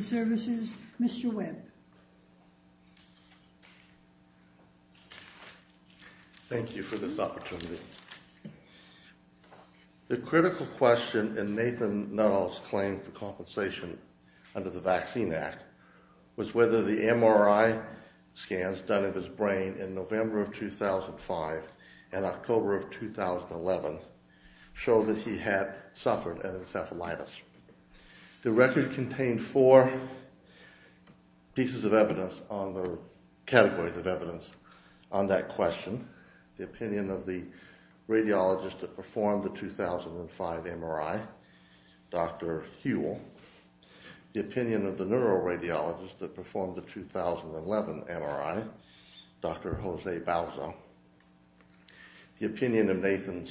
Services, Mr. Webb. Thank you for this opportunity. The critical question in Nathan Nuttall's claim for compensation under the Vaccine Act was whether the MRI scans done of his brain in November of 2005 and October of 2011 show that he had suffered an encephalitis. The record contained four pieces of evidence on the, categories of evidence on that question, the opinion of the radiologist that performed the 2005 MRI, Dr. Huell, the opinion of the neuroradiologist that performed the 2011 MRI, Dr. Jose Balzo, the opinion of Nathan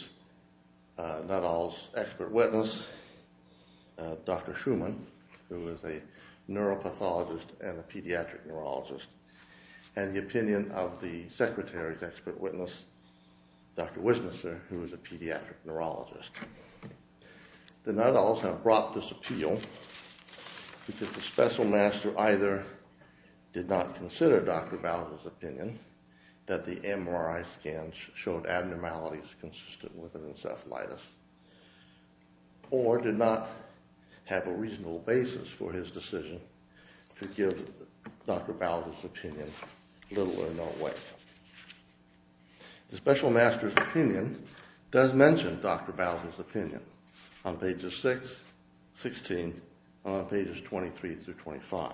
Nuttall's expert witness, Dr. Schumann, who is a neuropathologist and a pediatric neurologist, and the opinion of the secretary's expert witness, Dr. Wisnesser, who is a pediatric neurologist. The Nuttalls have brought this appeal because the special master either did not consider Dr. Balzo's opinion that the MRI scans showed abnormalities consistent with an encephalitis, or did not have a reasonable basis for his decision to give Dr. Balzo's opinion little or no way. The special master's opinion does mention Dr. Balzo's opinion on pages 6, 16, and on pages 23 through 25.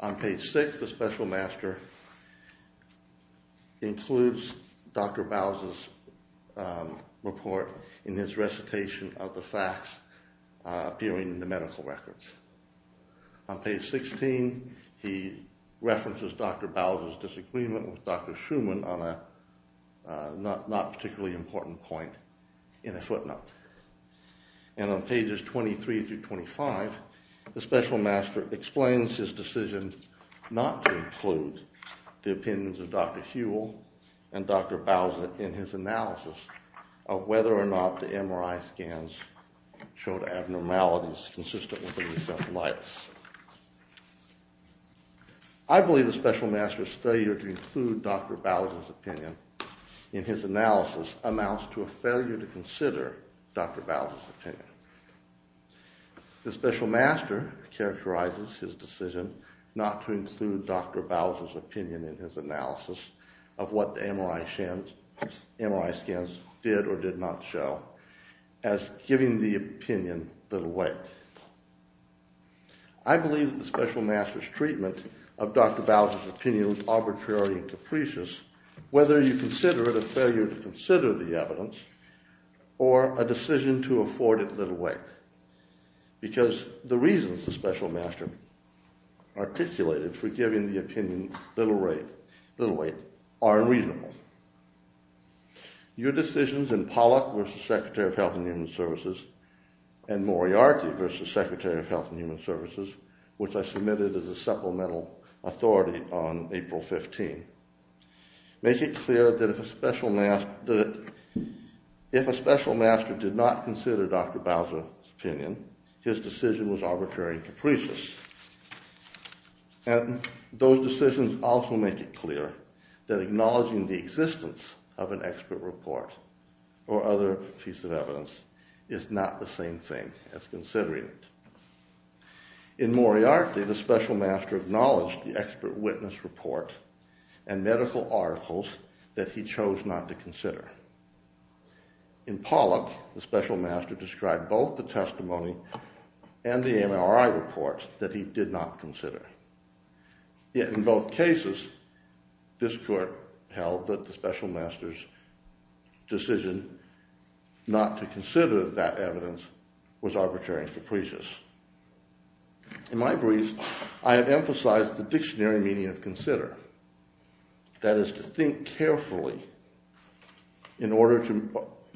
On page 6, the special master includes Dr. Balzo's report in his recitation of the facts appearing in the medical records. On page 16, he references Dr. Balzo's disagreement with Dr. Schumann on a not particularly important point in a footnote. And on pages 23 through 25, the special master explains his decision not to include the opinions of Dr. Huell and Dr. Balzo in his analysis of whether or not the MRI scans showed abnormalities consistent with an encephalitis. I believe the special master's failure to include Dr. Balzo's opinion in his analysis amounts to a failure to consider Dr. Balzo's opinion. The special master characterizes his decision not to include Dr. Balzo's opinion in his analysis of what the MRI scans did or did not show as giving the opinion little weight. I believe that the special master's treatment of Dr. Balzo's opinion is arbitrary and capricious whether you consider it a failure to consider the evidence or a decision to afford it little weight because the reasons the special master articulated for giving the opinion little weight are unreasonable. Your decisions in Pollock v. Secretary of Health and Human Services and Moriarty v. Secretary of Health and Human Services, which I submitted as a supplemental authority on April 15, make it clear that if a special master did not consider Dr. Balzo's opinion, his decision was arbitrary and capricious. Those decisions also make it clear that acknowledging the existence of an expert report or other piece of evidence is not the same thing as considering it. In Moriarty, the special master acknowledged the expert witness report and medical articles that he chose not to consider. In Pollock, the special master described both the testimony and the MRI report that he did not consider. Yet in both cases, this court held that the special master's decision not to consider that evidence was arbitrary and capricious. In my brief, I have emphasized the dictionary meaning of consider, that is, to think carefully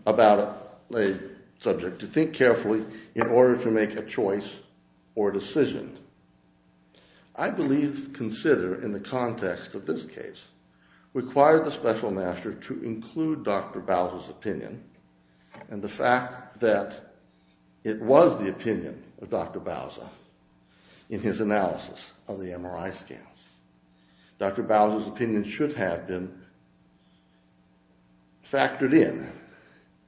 about a subject, to think carefully in order to make a choice or a decision. I believe consider in the context of this case required the special master to include Dr. Balzo's opinion and the fact that it was the opinion of Dr. Balzo in his analysis of the MRI scans. Dr. Balzo's opinion should have been factored in.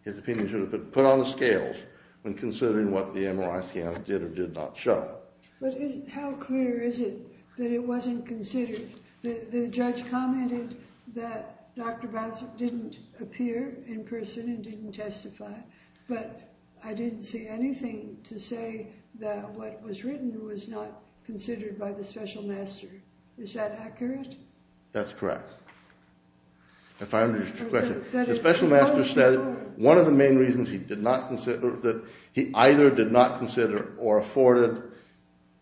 His opinion should have been put on the scales when considering what the MRI scans did or did not show. How clear is it that it wasn't considered? The judge commented that Dr. Balzo didn't appear in person and didn't testify, but I didn't see anything to say that what was written was not considered by the special master. Is that accurate? That's correct. If I understood your question, the special master said one of the main reasons he did not consider, that he either did not consider or afforded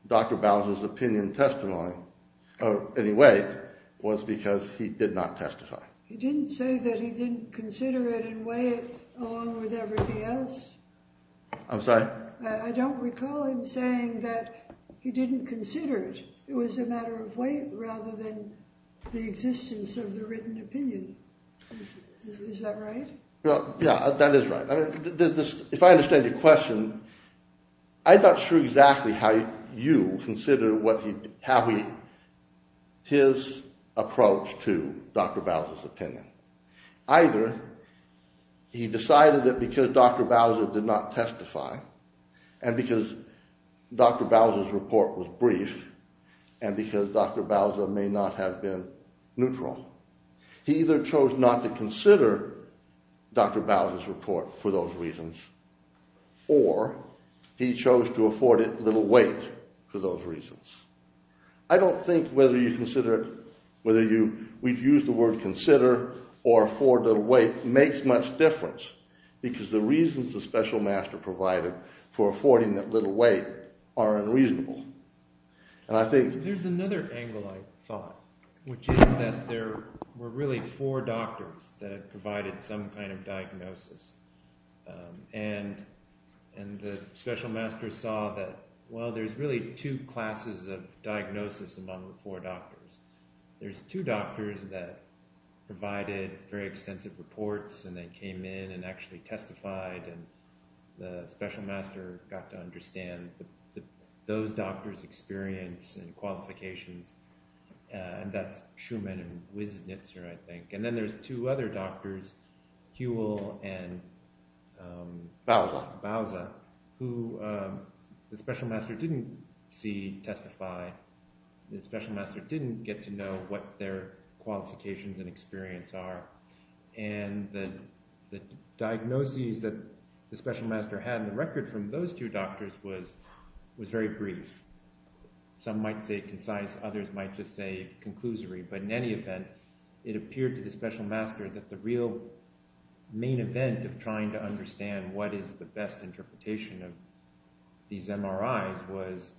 Dr. Balzo's opinion testimony in any way was because he did not testify. He didn't say that he didn't consider it and weigh it along with everything else? I'm sorry? I don't recall him saying that he didn't consider it. It was a matter of weight rather than the existence of the written opinion. Is that right? Yeah, that is right. If I understand your question, I'm not sure exactly how you consider his approach to Dr. Balzo's opinion. Either he decided that because Dr. Balzo did not testify and because Dr. Balzo's report was brief and because Dr. Balzo may not have been neutral, he either chose not to consider Dr. Balzo's report for those reasons or he chose to afford it little weight for those reasons. I don't think whether you consider it – whether you – we've used the word consider or afford little weight makes much difference because the reasons the special master provided for affording that little weight are unreasonable. There's another angle I thought, which is that there were really four doctors that provided some kind of diagnosis. And the special master saw that, well, there's really two classes of diagnosis among the four doctors. There's two doctors that provided very extensive reports and then came in and actually testified, and the special master got to understand those doctors' experience and qualifications, and that's Schumann and Wisnitzer, I think. And then there's two other doctors, Huell and Balza, who the special master didn't see testify. The special master didn't get to know what their qualifications and experience are. And the diagnoses that the special master had in the record from those two doctors was very brief. Some might say concise, others might just say conclusory, but in any event, it appeared to the special master that the real main event of trying to understand what is the best interpretation of these MRIs was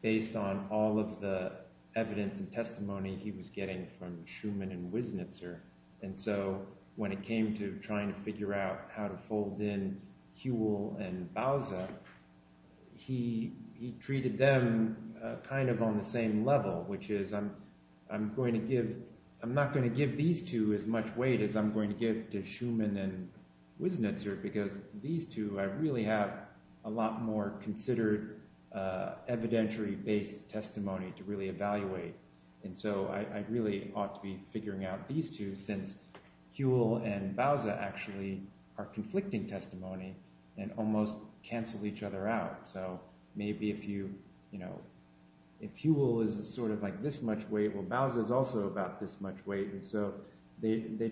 based on all of the evidence and testimony he was getting from Schumann and Wisnitzer. And so when it came to trying to figure out how to fold in Huell and Balza, he treated them kind of on the same level, which is I'm not going to give these two as much weight as I'm going to give to Schumann and Wisnitzer because these two really have a lot more considered evidentiary-based testimony to really evaluate. And so I really ought to be figuring out these two since Huell and Balza actually are conflicting testimony and almost cancel each other out. So maybe if Huell is sort of like this much weight, well, Balza is also about this much weight. And so they're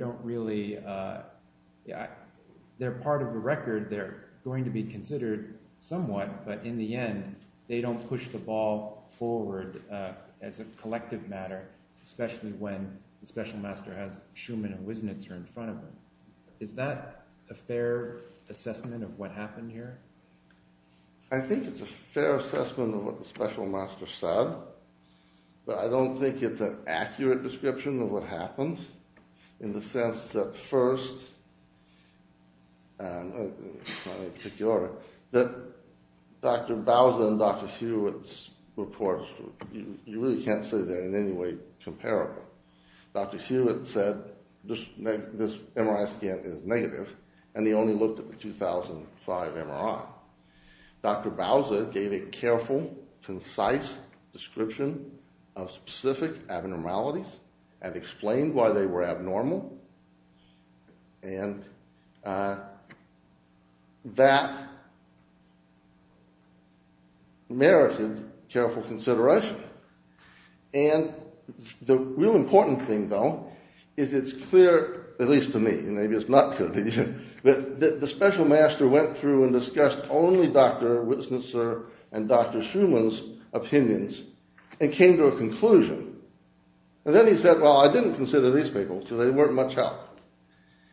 part of the record. They're going to be considered somewhat, but in the end, they don't push the ball forward as a collective matter, especially when the special master has Schumann and Wisnitzer in front of them. Is that a fair assessment of what happened here? I think it's a fair assessment of what the special master said, but I don't think it's an accurate description of what happened in the sense that first, in particular, that Dr. Balza and Dr. Hewitt's reports, you really can't say they're in any way comparable. Dr. Hewitt said this MRI scan is negative, and he only looked at the 2005 MRI. Dr. Balza gave a careful, concise description of specific abnormalities and explained why they were abnormal, and that merited careful consideration. And the real important thing, though, is it's clear, at least to me, and maybe it's not clear to you, that the special master went through and discussed only Dr. Wisnitzer and Dr. Schumann's opinions and came to a conclusion. And then he said, well, I didn't consider these people because they weren't much help.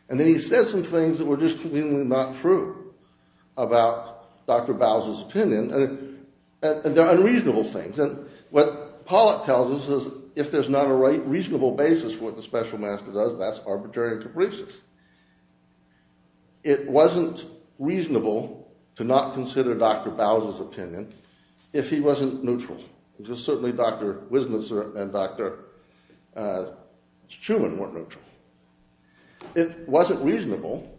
And then he said some things that were just completely not true about Dr. Balza's opinion, and they're unreasonable things. And what Pollack tells us is if there's not a reasonable basis for what the special master does, that's arbitrary and capricious. It wasn't reasonable to not consider Dr. Balza's opinion if he wasn't neutral, because certainly Dr. Wisnitzer and Dr. Schumann weren't neutral. It wasn't reasonable,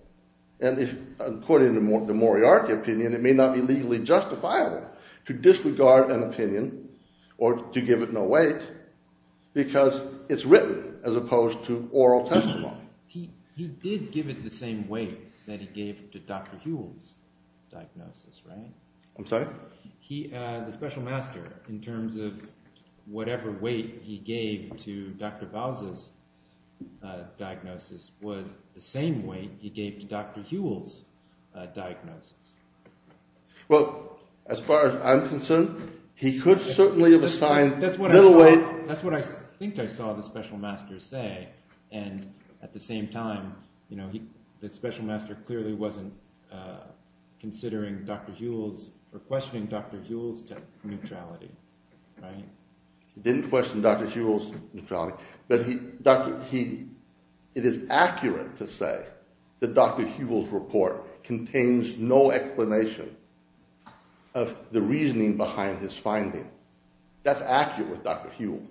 and according to the Moriarty opinion, it may not be legally justifiable to disregard an opinion or to give it no weight, because it's written as opposed to oral testimony. But he did give it the same weight that he gave to Dr. Hewell's diagnosis, right? The special master, in terms of whatever weight he gave to Dr. Balza's diagnosis, was the same weight he gave to Dr. Hewell's diagnosis. Well, as far as I'm concerned, he could certainly have assigned little weight. That's what I think I saw the special master say, and at the same time, the special master clearly wasn't considering Dr. Hewell's or questioning Dr. Hewell's neutrality. He didn't question Dr. Hewell's neutrality, but it is accurate to say that Dr. Hewell's report contains no explanation of the reasoning behind his finding. That's accurate with Dr. Hewell.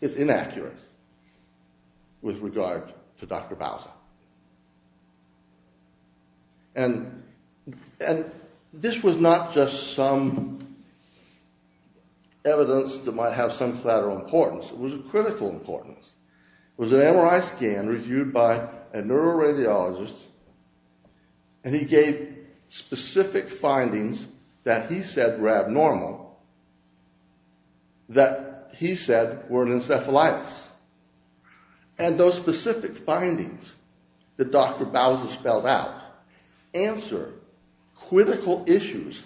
It's inaccurate with regard to Dr. Balza. And this was not just some evidence that might have some collateral importance. It was of critical importance. It was an MRI scan reviewed by a neuroradiologist, and he gave specific findings that he said were abnormal that he said were an encephalitis. And those specific findings that Dr. Balza spelled out answer critical issues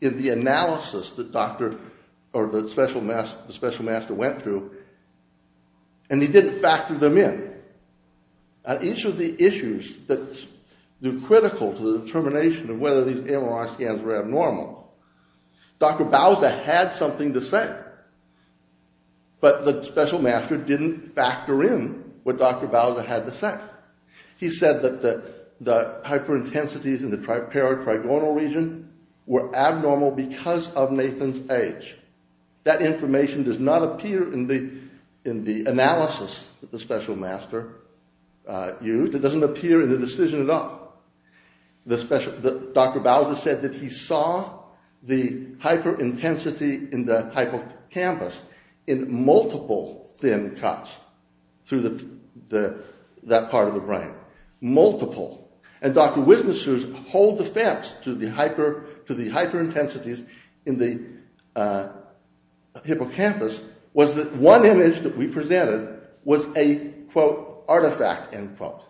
in the analysis that the special master went through, and he didn't factor them in. And each of the issues that are critical to the determination of whether these MRI scans were abnormal, Dr. Balza had something to say, but the special master didn't factor in what Dr. Balza had to say. He said that the hyperintensities in the paratrigonal region were abnormal because of Nathan's age. That information does not appear in the analysis that the special master used. It doesn't appear in the decision at all. Dr. Balza said that he saw the hyperintensity in the hippocampus in multiple thin cuts through that part of the brain. Multiple. And Dr. Wisniewski's whole defense to the hyperintensities in the hippocampus was that one image that we presented was a, quote, artifact, end quote.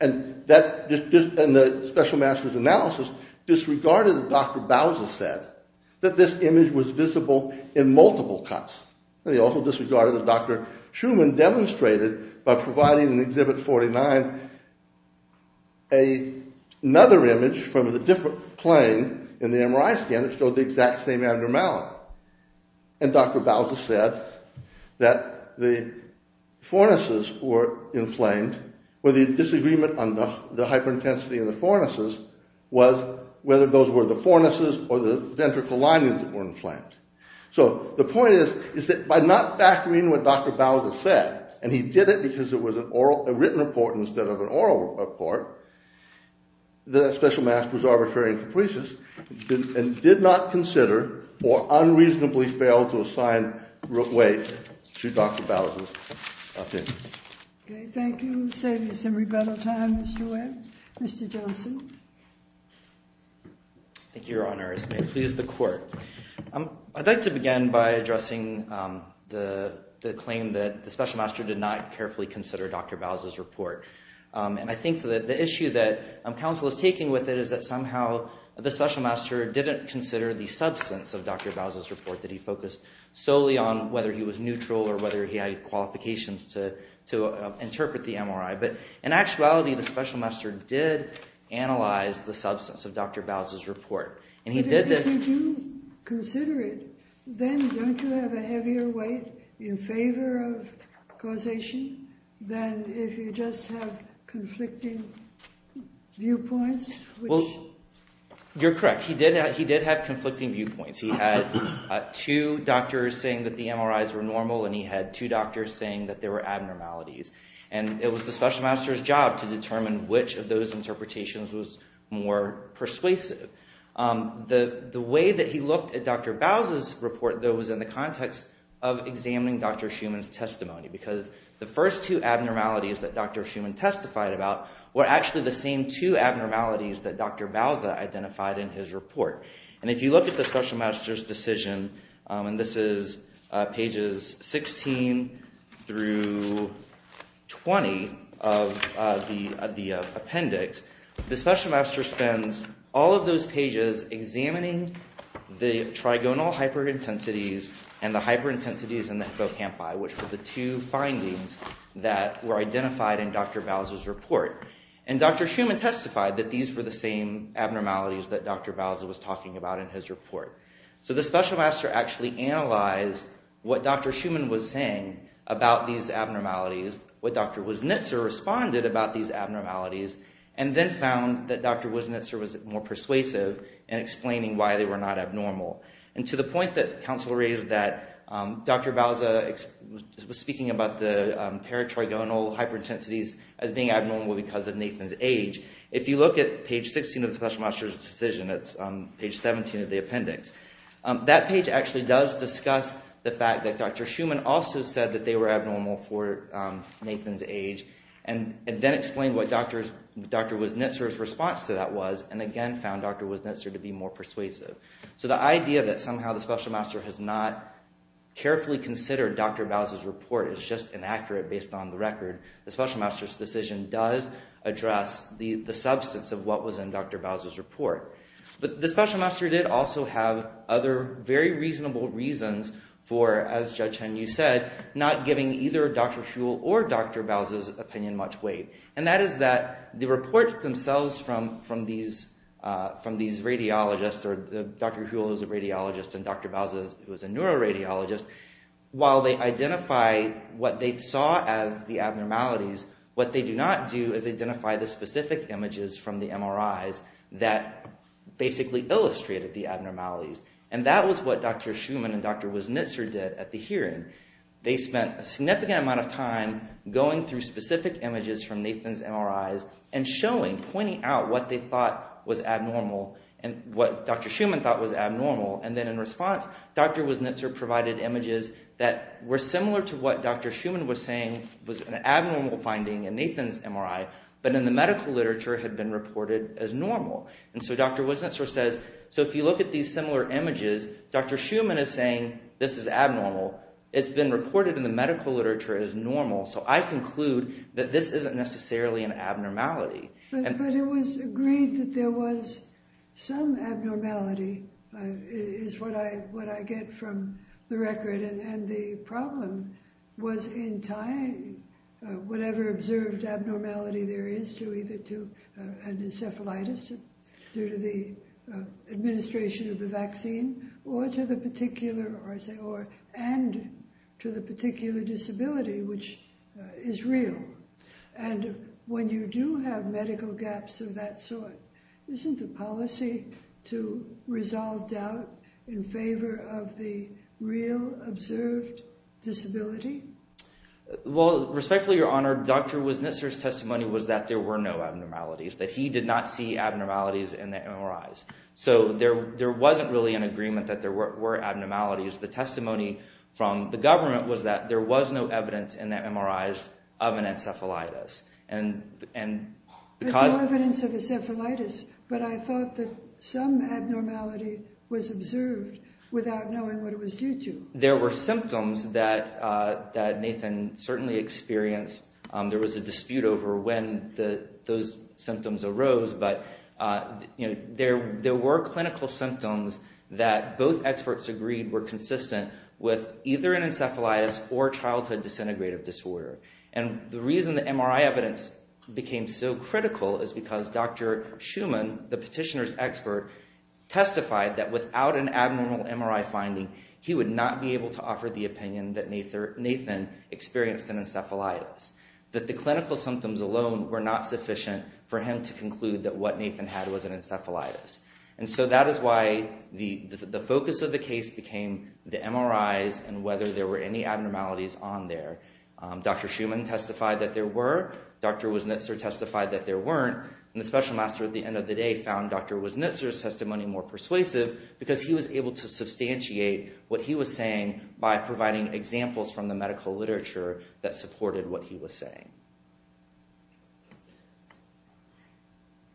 And the special master's analysis disregarded what Dr. Balza said, that this image was visible in multiple cuts. And he also disregarded what Dr. Schumann demonstrated by providing in Exhibit 49 another image from a different plane in the MRI scan that showed the exact same abnormality. And Dr. Balza said that the forenesses were inflamed, where the disagreement on the hyperintensity of the forenesses was whether those were the forenesses or the ventricle linings that were inflamed. So the point is that by not factoring what Dr. Balza said, and he did it because it was a written report instead of an oral report, the special master was arbitrary and capricious and did not consider or unreasonably failed to assign weight to Dr. Balza's opinion. Okay, thank you. We'll save you some rebuttal time, Mr. Webb. Mr. Johnson. Thank you, Your Honors. May it please the Court. I'd like to begin by addressing the claim that the special master did not carefully consider Dr. Balza's report. And I think that the issue that counsel is taking with it is that somehow the special master didn't consider the substance of Dr. Balza's report that he focused solely on whether he was neutral or whether he had qualifications to interpret the MRI. But in actuality, the special master did analyze the substance of Dr. Balza's report, and he did this… But if you do consider it, then don't you have a heavier weight in favor of causation than if you just have conflicting viewpoints, which… Well, you're correct. He did have conflicting viewpoints. He had two doctors saying that the MRIs were normal, and he had two doctors saying that there were abnormalities. And it was the special master's job to determine which of those interpretations was more persuasive. The way that he looked at Dr. Balza's report, though, was in the context of examining Dr. Schuman's testimony, because the first two abnormalities that Dr. Schuman testified about were actually the same two abnormalities that Dr. Balza identified in his report. And if you look at the special master's decision, and this is pages 16 through 20 of the appendix, the special master spends all of those pages examining the trigonal hyperintensities and the hyperintensities in the hippocampi, which were the two findings that were identified in Dr. Balza's report. And Dr. Schuman testified that these were the same abnormalities that Dr. Balza was talking about in his report. So the special master actually analyzed what Dr. Schuman was saying about these abnormalities, what Dr. Wisnitzer responded about these abnormalities, and then found that Dr. Wisnitzer was more persuasive in explaining why they were not abnormal. And to the point that counsel raised that Dr. Balza was speaking about the paratrigonal hyperintensities as being abnormal because of Nathan's age, if you look at page 16 of the special master's decision, that's page 17 of the appendix, that page actually does discuss the fact that Dr. Schuman also said that they were abnormal for Nathan's age, and then explained what Dr. Wisnitzer's response to that was, and again found Dr. Wisnitzer to be more persuasive. So the idea that somehow the special master has not carefully considered Dr. Balza's report is just inaccurate based on the record. The special master's decision does address the substance of what was in Dr. Balza's report. But the special master did also have other very reasonable reasons for, as Judge Chen-Yu said, not giving either Dr. Schuhl or Dr. Balza's opinion much weight. And that is that the reports themselves from these radiologists, or Dr. Schuhl was a radiologist and Dr. Balza was a neuroradiologist, while they identify what they saw as the abnormalities, what they do not do is identify the specific images from the MRIs that basically illustrated the abnormalities. And that was what Dr. Schuman and Dr. Wisnitzer did at the hearing. They spent a significant amount of time going through specific images from Nathan's MRIs and showing, pointing out what they thought was abnormal and what Dr. Schuman thought was abnormal. And then in response, Dr. Wisnitzer provided images that were similar to what Dr. Schuman was saying was an abnormal finding in Nathan's MRI, but in the medical literature had been reported as normal. And so Dr. Wisnitzer says, so if you look at these similar images, Dr. Schuman is saying this is abnormal, it's been reported in the medical literature as normal, so I conclude that this isn't necessarily an abnormality. But it was agreed that there was some abnormality, is what I get from the record, and the problem was in tying whatever observed abnormality there is to either to an encephalitis due to the administration of the vaccine, or to the particular, and to the particular disability, which is real. And when you do have medical gaps of that sort, isn't the policy to resolve doubt in favor of the real observed disability? Well, respectfully, Your Honor, Dr. Wisnitzer's testimony was that there were no abnormalities, that he did not see abnormalities in the MRIs. So there wasn't really an agreement that there were abnormalities. The testimony from the government was that there was no evidence in the MRIs of an encephalitis. There's no evidence of encephalitis, but I thought that some abnormality was observed without knowing what it was due to. There were symptoms that Nathan certainly experienced. There was a dispute over when those symptoms arose, but there were clinical symptoms that both experts agreed were consistent with either an encephalitis or childhood disintegrative disorder. And the reason the MRI evidence became so critical is because Dr. Schuman, the petitioner's expert, testified that without an abnormal MRI finding, he would not be able to offer the opinion that Nathan experienced an encephalitis, that the clinical symptoms alone were not sufficient for him to conclude that what Nathan had was an encephalitis. And so that is why the focus of the case became the MRIs and whether there were any abnormalities on there. Dr. Schuman testified that there were. Dr. Wisnitzer testified that there weren't. And the special master at the end of the day found Dr. Wisnitzer's testimony more persuasive because he was able to substantiate what he was saying by providing examples from the medical literature that supported what he was saying.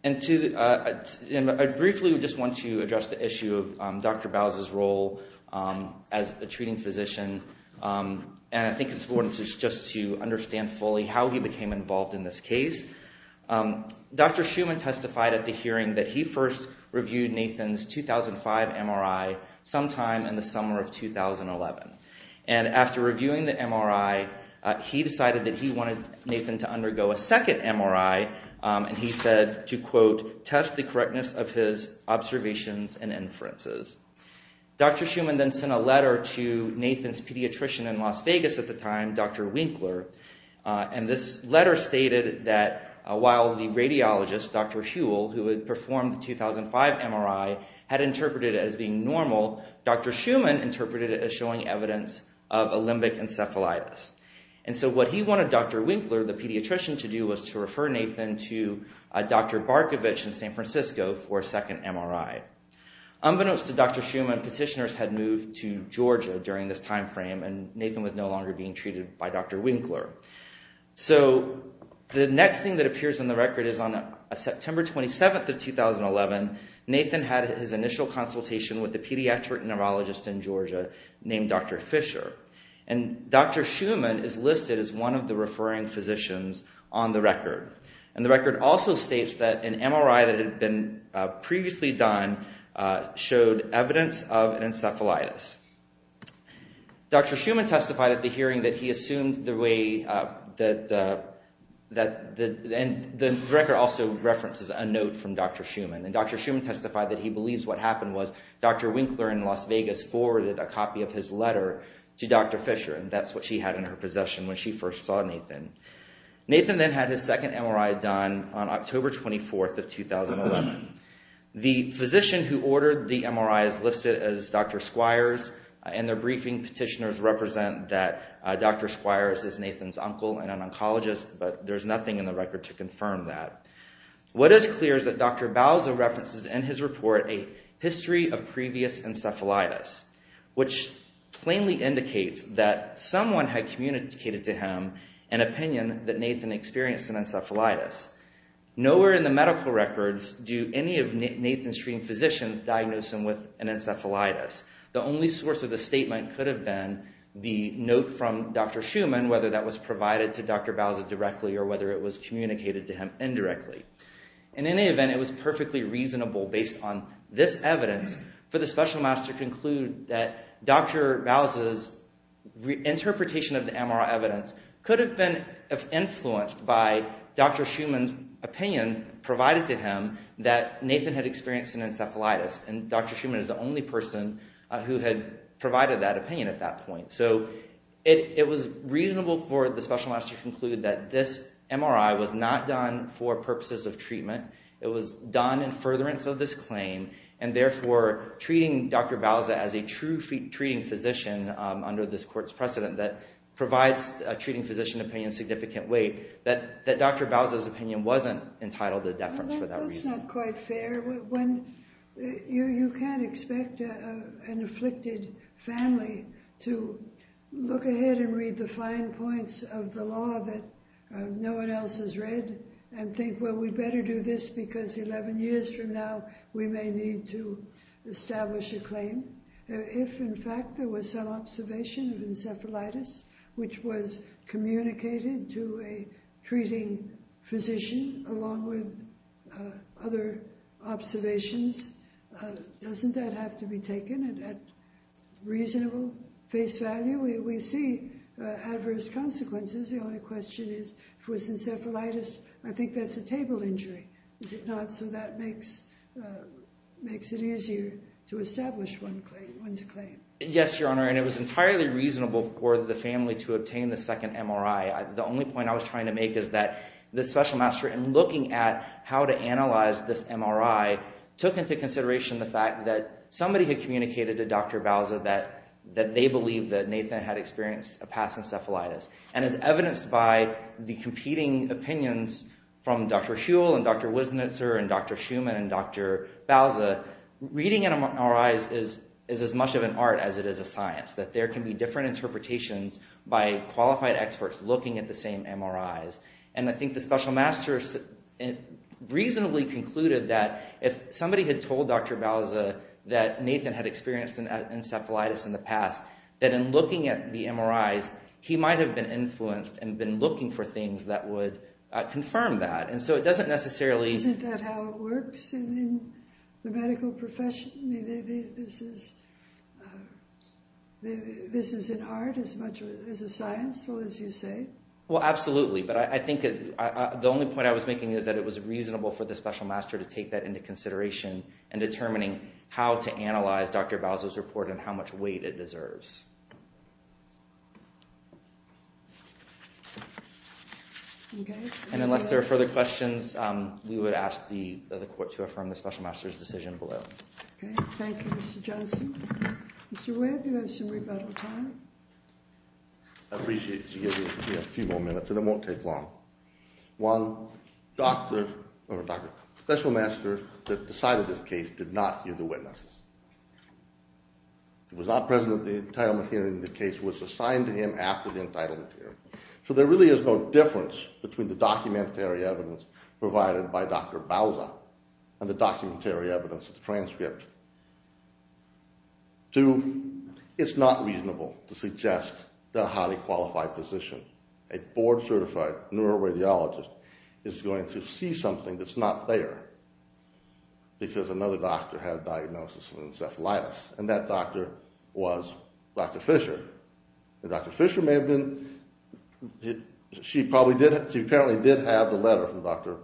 And I briefly just want to address the issue of Dr. Bowes's role as a treating physician. And I think it's important just to understand fully how he became involved in this case. Dr. Schuman testified at the hearing that he first reviewed Nathan's 2005 MRI sometime in the summer of 2011. And after reviewing the MRI, he decided that he wanted Nathan to undergo a second MRI. And he said to, quote, test the correctness of his observations and inferences. Dr. Schuman then sent a letter to Nathan's pediatrician in Las Vegas at the time, Dr. Winkler. And this letter stated that while the radiologist, Dr. Huell, who had performed the 2005 MRI, had interpreted it as being normal, Dr. Schuman interpreted it as showing evidence of a limbic encephalitis. And so what he wanted Dr. Winkler, the pediatrician, to do was to refer Nathan to Dr. Barkovich in San Francisco for a second MRI. Unbeknownst to Dr. Schuman, petitioners had moved to Georgia during this timeframe, and Nathan was no longer being treated by Dr. Winkler. So the next thing that appears in the record is on September 27th of 2011, Nathan had his initial consultation with a pediatric neurologist in Georgia named Dr. Fisher. And Dr. Schuman is listed as one of the referring physicians on the record. And the record also states that an MRI that had been previously done showed evidence of an encephalitis. Dr. Schuman testified at the hearing that he assumed the way that—and the record also references a note from Dr. Schuman. And Dr. Schuman testified that he believes what happened was Dr. Winkler in Las Vegas forwarded a copy of his letter to Dr. Fisher, and that's what she had in her possession when she first saw Nathan. Nathan then had his second MRI done on October 24th of 2011. The physician who ordered the MRI is listed as Dr. Squires, and their briefing petitioners represent that Dr. Squires is Nathan's uncle and an oncologist, but there's nothing in the record to confirm that. What is clear is that Dr. Bauza references in his report a history of previous encephalitis, which plainly indicates that someone had communicated to him an opinion that Nathan experienced an encephalitis. Nowhere in the medical records do any of Nathan's treating physicians diagnose him with an encephalitis. The only source of the statement could have been the note from Dr. Schuman, whether that was provided to Dr. Bauza directly or whether it was communicated to him indirectly. In any event, it was perfectly reasonable based on this evidence for the Special Master to conclude that Dr. Bauza's interpretation of the MRI evidence could have been influenced by Dr. Schuman's opinion provided to him that Nathan had experienced an encephalitis, and Dr. Schuman is the only person who had provided that opinion at that point. So it was reasonable for the Special Master to conclude that this MRI was not done for purposes of treatment. It was done in furtherance of this claim, and therefore treating Dr. Bauza as a true treating physician under this court's precedent that provides a treating physician opinion significant weight, that Dr. Bauza's opinion wasn't entitled to deference for that reason. It's not quite fair when you can't expect an afflicted family to look ahead and read the fine points of the law that no one else has read and think, well, we'd better do this because 11 years from now, we may need to establish a claim. If, in fact, there was some observation of encephalitis, which was communicated to a treating physician along with other observations, doesn't that have to be taken at reasonable face value? We see adverse consequences. The only question is, if it was encephalitis, I think that's a table injury. Is it not? So that makes it easier to establish one's claim. Yes, Your Honor, and it was entirely reasonable for the family to obtain the second MRI. The only point I was trying to make is that the Special Master, in looking at how to analyze this MRI, took into consideration the fact that somebody had communicated to Dr. Bauza that they believed that Nathan had experienced a past encephalitis. And as evidenced by the competing opinions from Dr. Huell and Dr. Wisnitzer and Dr. Schuman and Dr. Bauza, reading MRIs is as much of an art as it is a science, that there can be different interpretations by qualified experts looking at the same MRIs. And I think the Special Master reasonably concluded that if somebody had told Dr. Bauza that Nathan had experienced an encephalitis in the past, that in looking at the MRIs, he might have been influenced and been looking for things that would confirm that. And so it doesn't necessarily… Isn't that how it works in the medical profession? This is an art as much as a science, as you say? Well, absolutely. But I think the only point I was making is that it was reasonable for the Special Master to take that into consideration in determining how to analyze Dr. Bauza's report and how much weight it deserves. Okay. And unless there are further questions, we would ask the court to affirm the Special Master's decision below. Okay. Thank you, Mr. Johnson. Mr. Webb, you have some rebuttal time. I appreciate you giving me a few more minutes, and it won't take long. One, the Special Master that decided this case did not hear the witnesses. He was not present at the entitlement hearing. The case was assigned to him after the entitlement hearing. So there really is no difference between the documentary evidence provided by Dr. Bauza and the documentary evidence of the transcript. Two, it's not reasonable to suggest that a highly qualified physician, a board-certified neuroradiologist, is going to see something that's not there because another doctor had a diagnosis of encephalitis, and that doctor was Dr. Fisher. And Dr. Fisher may have been – she probably did – she apparently did have the letter from Dr.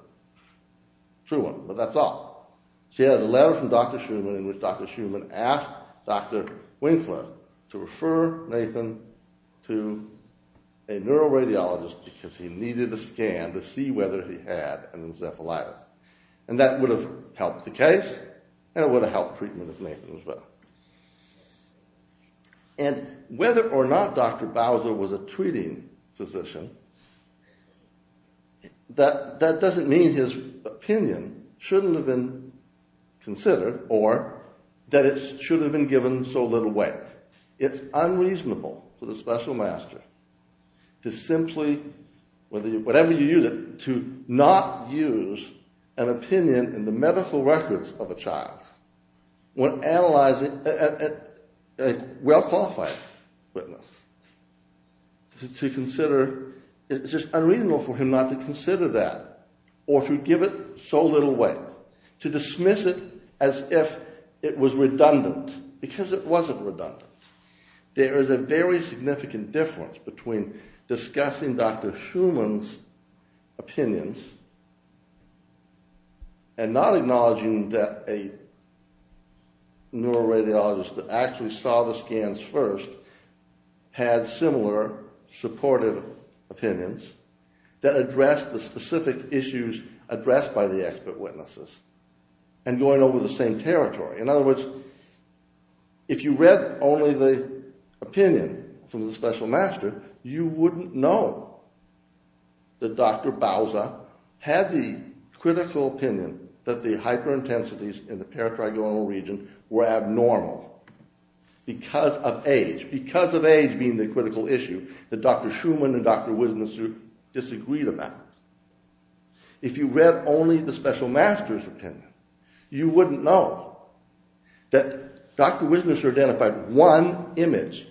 Shuman, but that's all. She had a letter from Dr. Shuman in which Dr. Shuman asked Dr. Winkler to refer Nathan to a neuroradiologist because he needed a scan to see whether he had an encephalitis. And that would have helped the case, and it would have helped treatment of Nathan as well. And whether or not Dr. Bauza was a treating physician, that doesn't mean his opinion shouldn't have been considered or that it should have been given so little weight. It's unreasonable for the special master to simply – whatever you use it – to not use an opinion in the medical records of a child when analyzing a well-qualified witness. To consider – it's just unreasonable for him not to consider that or to give it so little weight. To dismiss it as if it was redundant, because it wasn't redundant. There is a very significant difference between discussing Dr. Shuman's opinions and not acknowledging that a neuroradiologist that actually saw the scans first had similar supportive opinions that addressed the specific issues addressed by the expert witnesses and going over the same territory. In other words, if you read only the opinion from the special master, you wouldn't know that Dr. Bauza had the critical opinion that the hyperintensities in the paratrigonal region were abnormal because of age. Age being the critical issue that Dr. Shuman and Dr. Wisnesser disagreed about. If you read only the special master's opinion, you wouldn't know that Dr. Wisnesser identified one image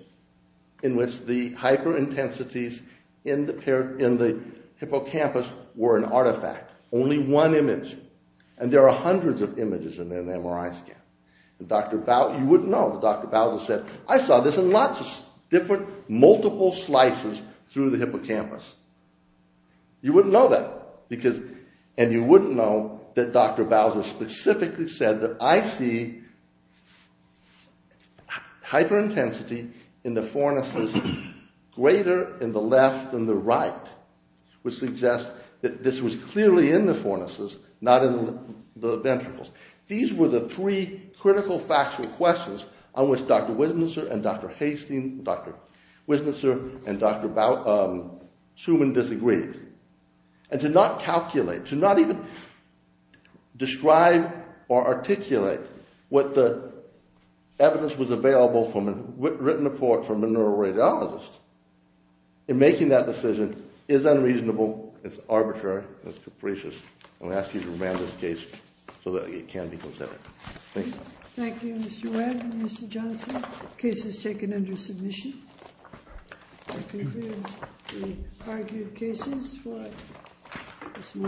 in which the hyperintensities in the hippocampus were an artifact. Only one image. And there are hundreds of images in an MRI scan. You wouldn't know that Dr. Bauza said, I saw this in lots of different, multiple slices through the hippocampus. You wouldn't know that. And you wouldn't know that Dr. Bauza specifically said that I see hyperintensity in the fornices greater in the left than the right. Which suggests that this was clearly in the fornices, not in the ventricles. These were the three critical factual questions on which Dr. Wisnesser and Dr. Shuman disagreed. And to not calculate, to not even describe or articulate what the evidence was available from a written report from a neuroradiologist in making that decision is unreasonable. It's arbitrary. It's capricious. I'm going to ask you to remand this case so that it can be considered. Thank you, Mr. Webb and Mr. Johnson. The case is taken under submission. That concludes the argued cases for this morning.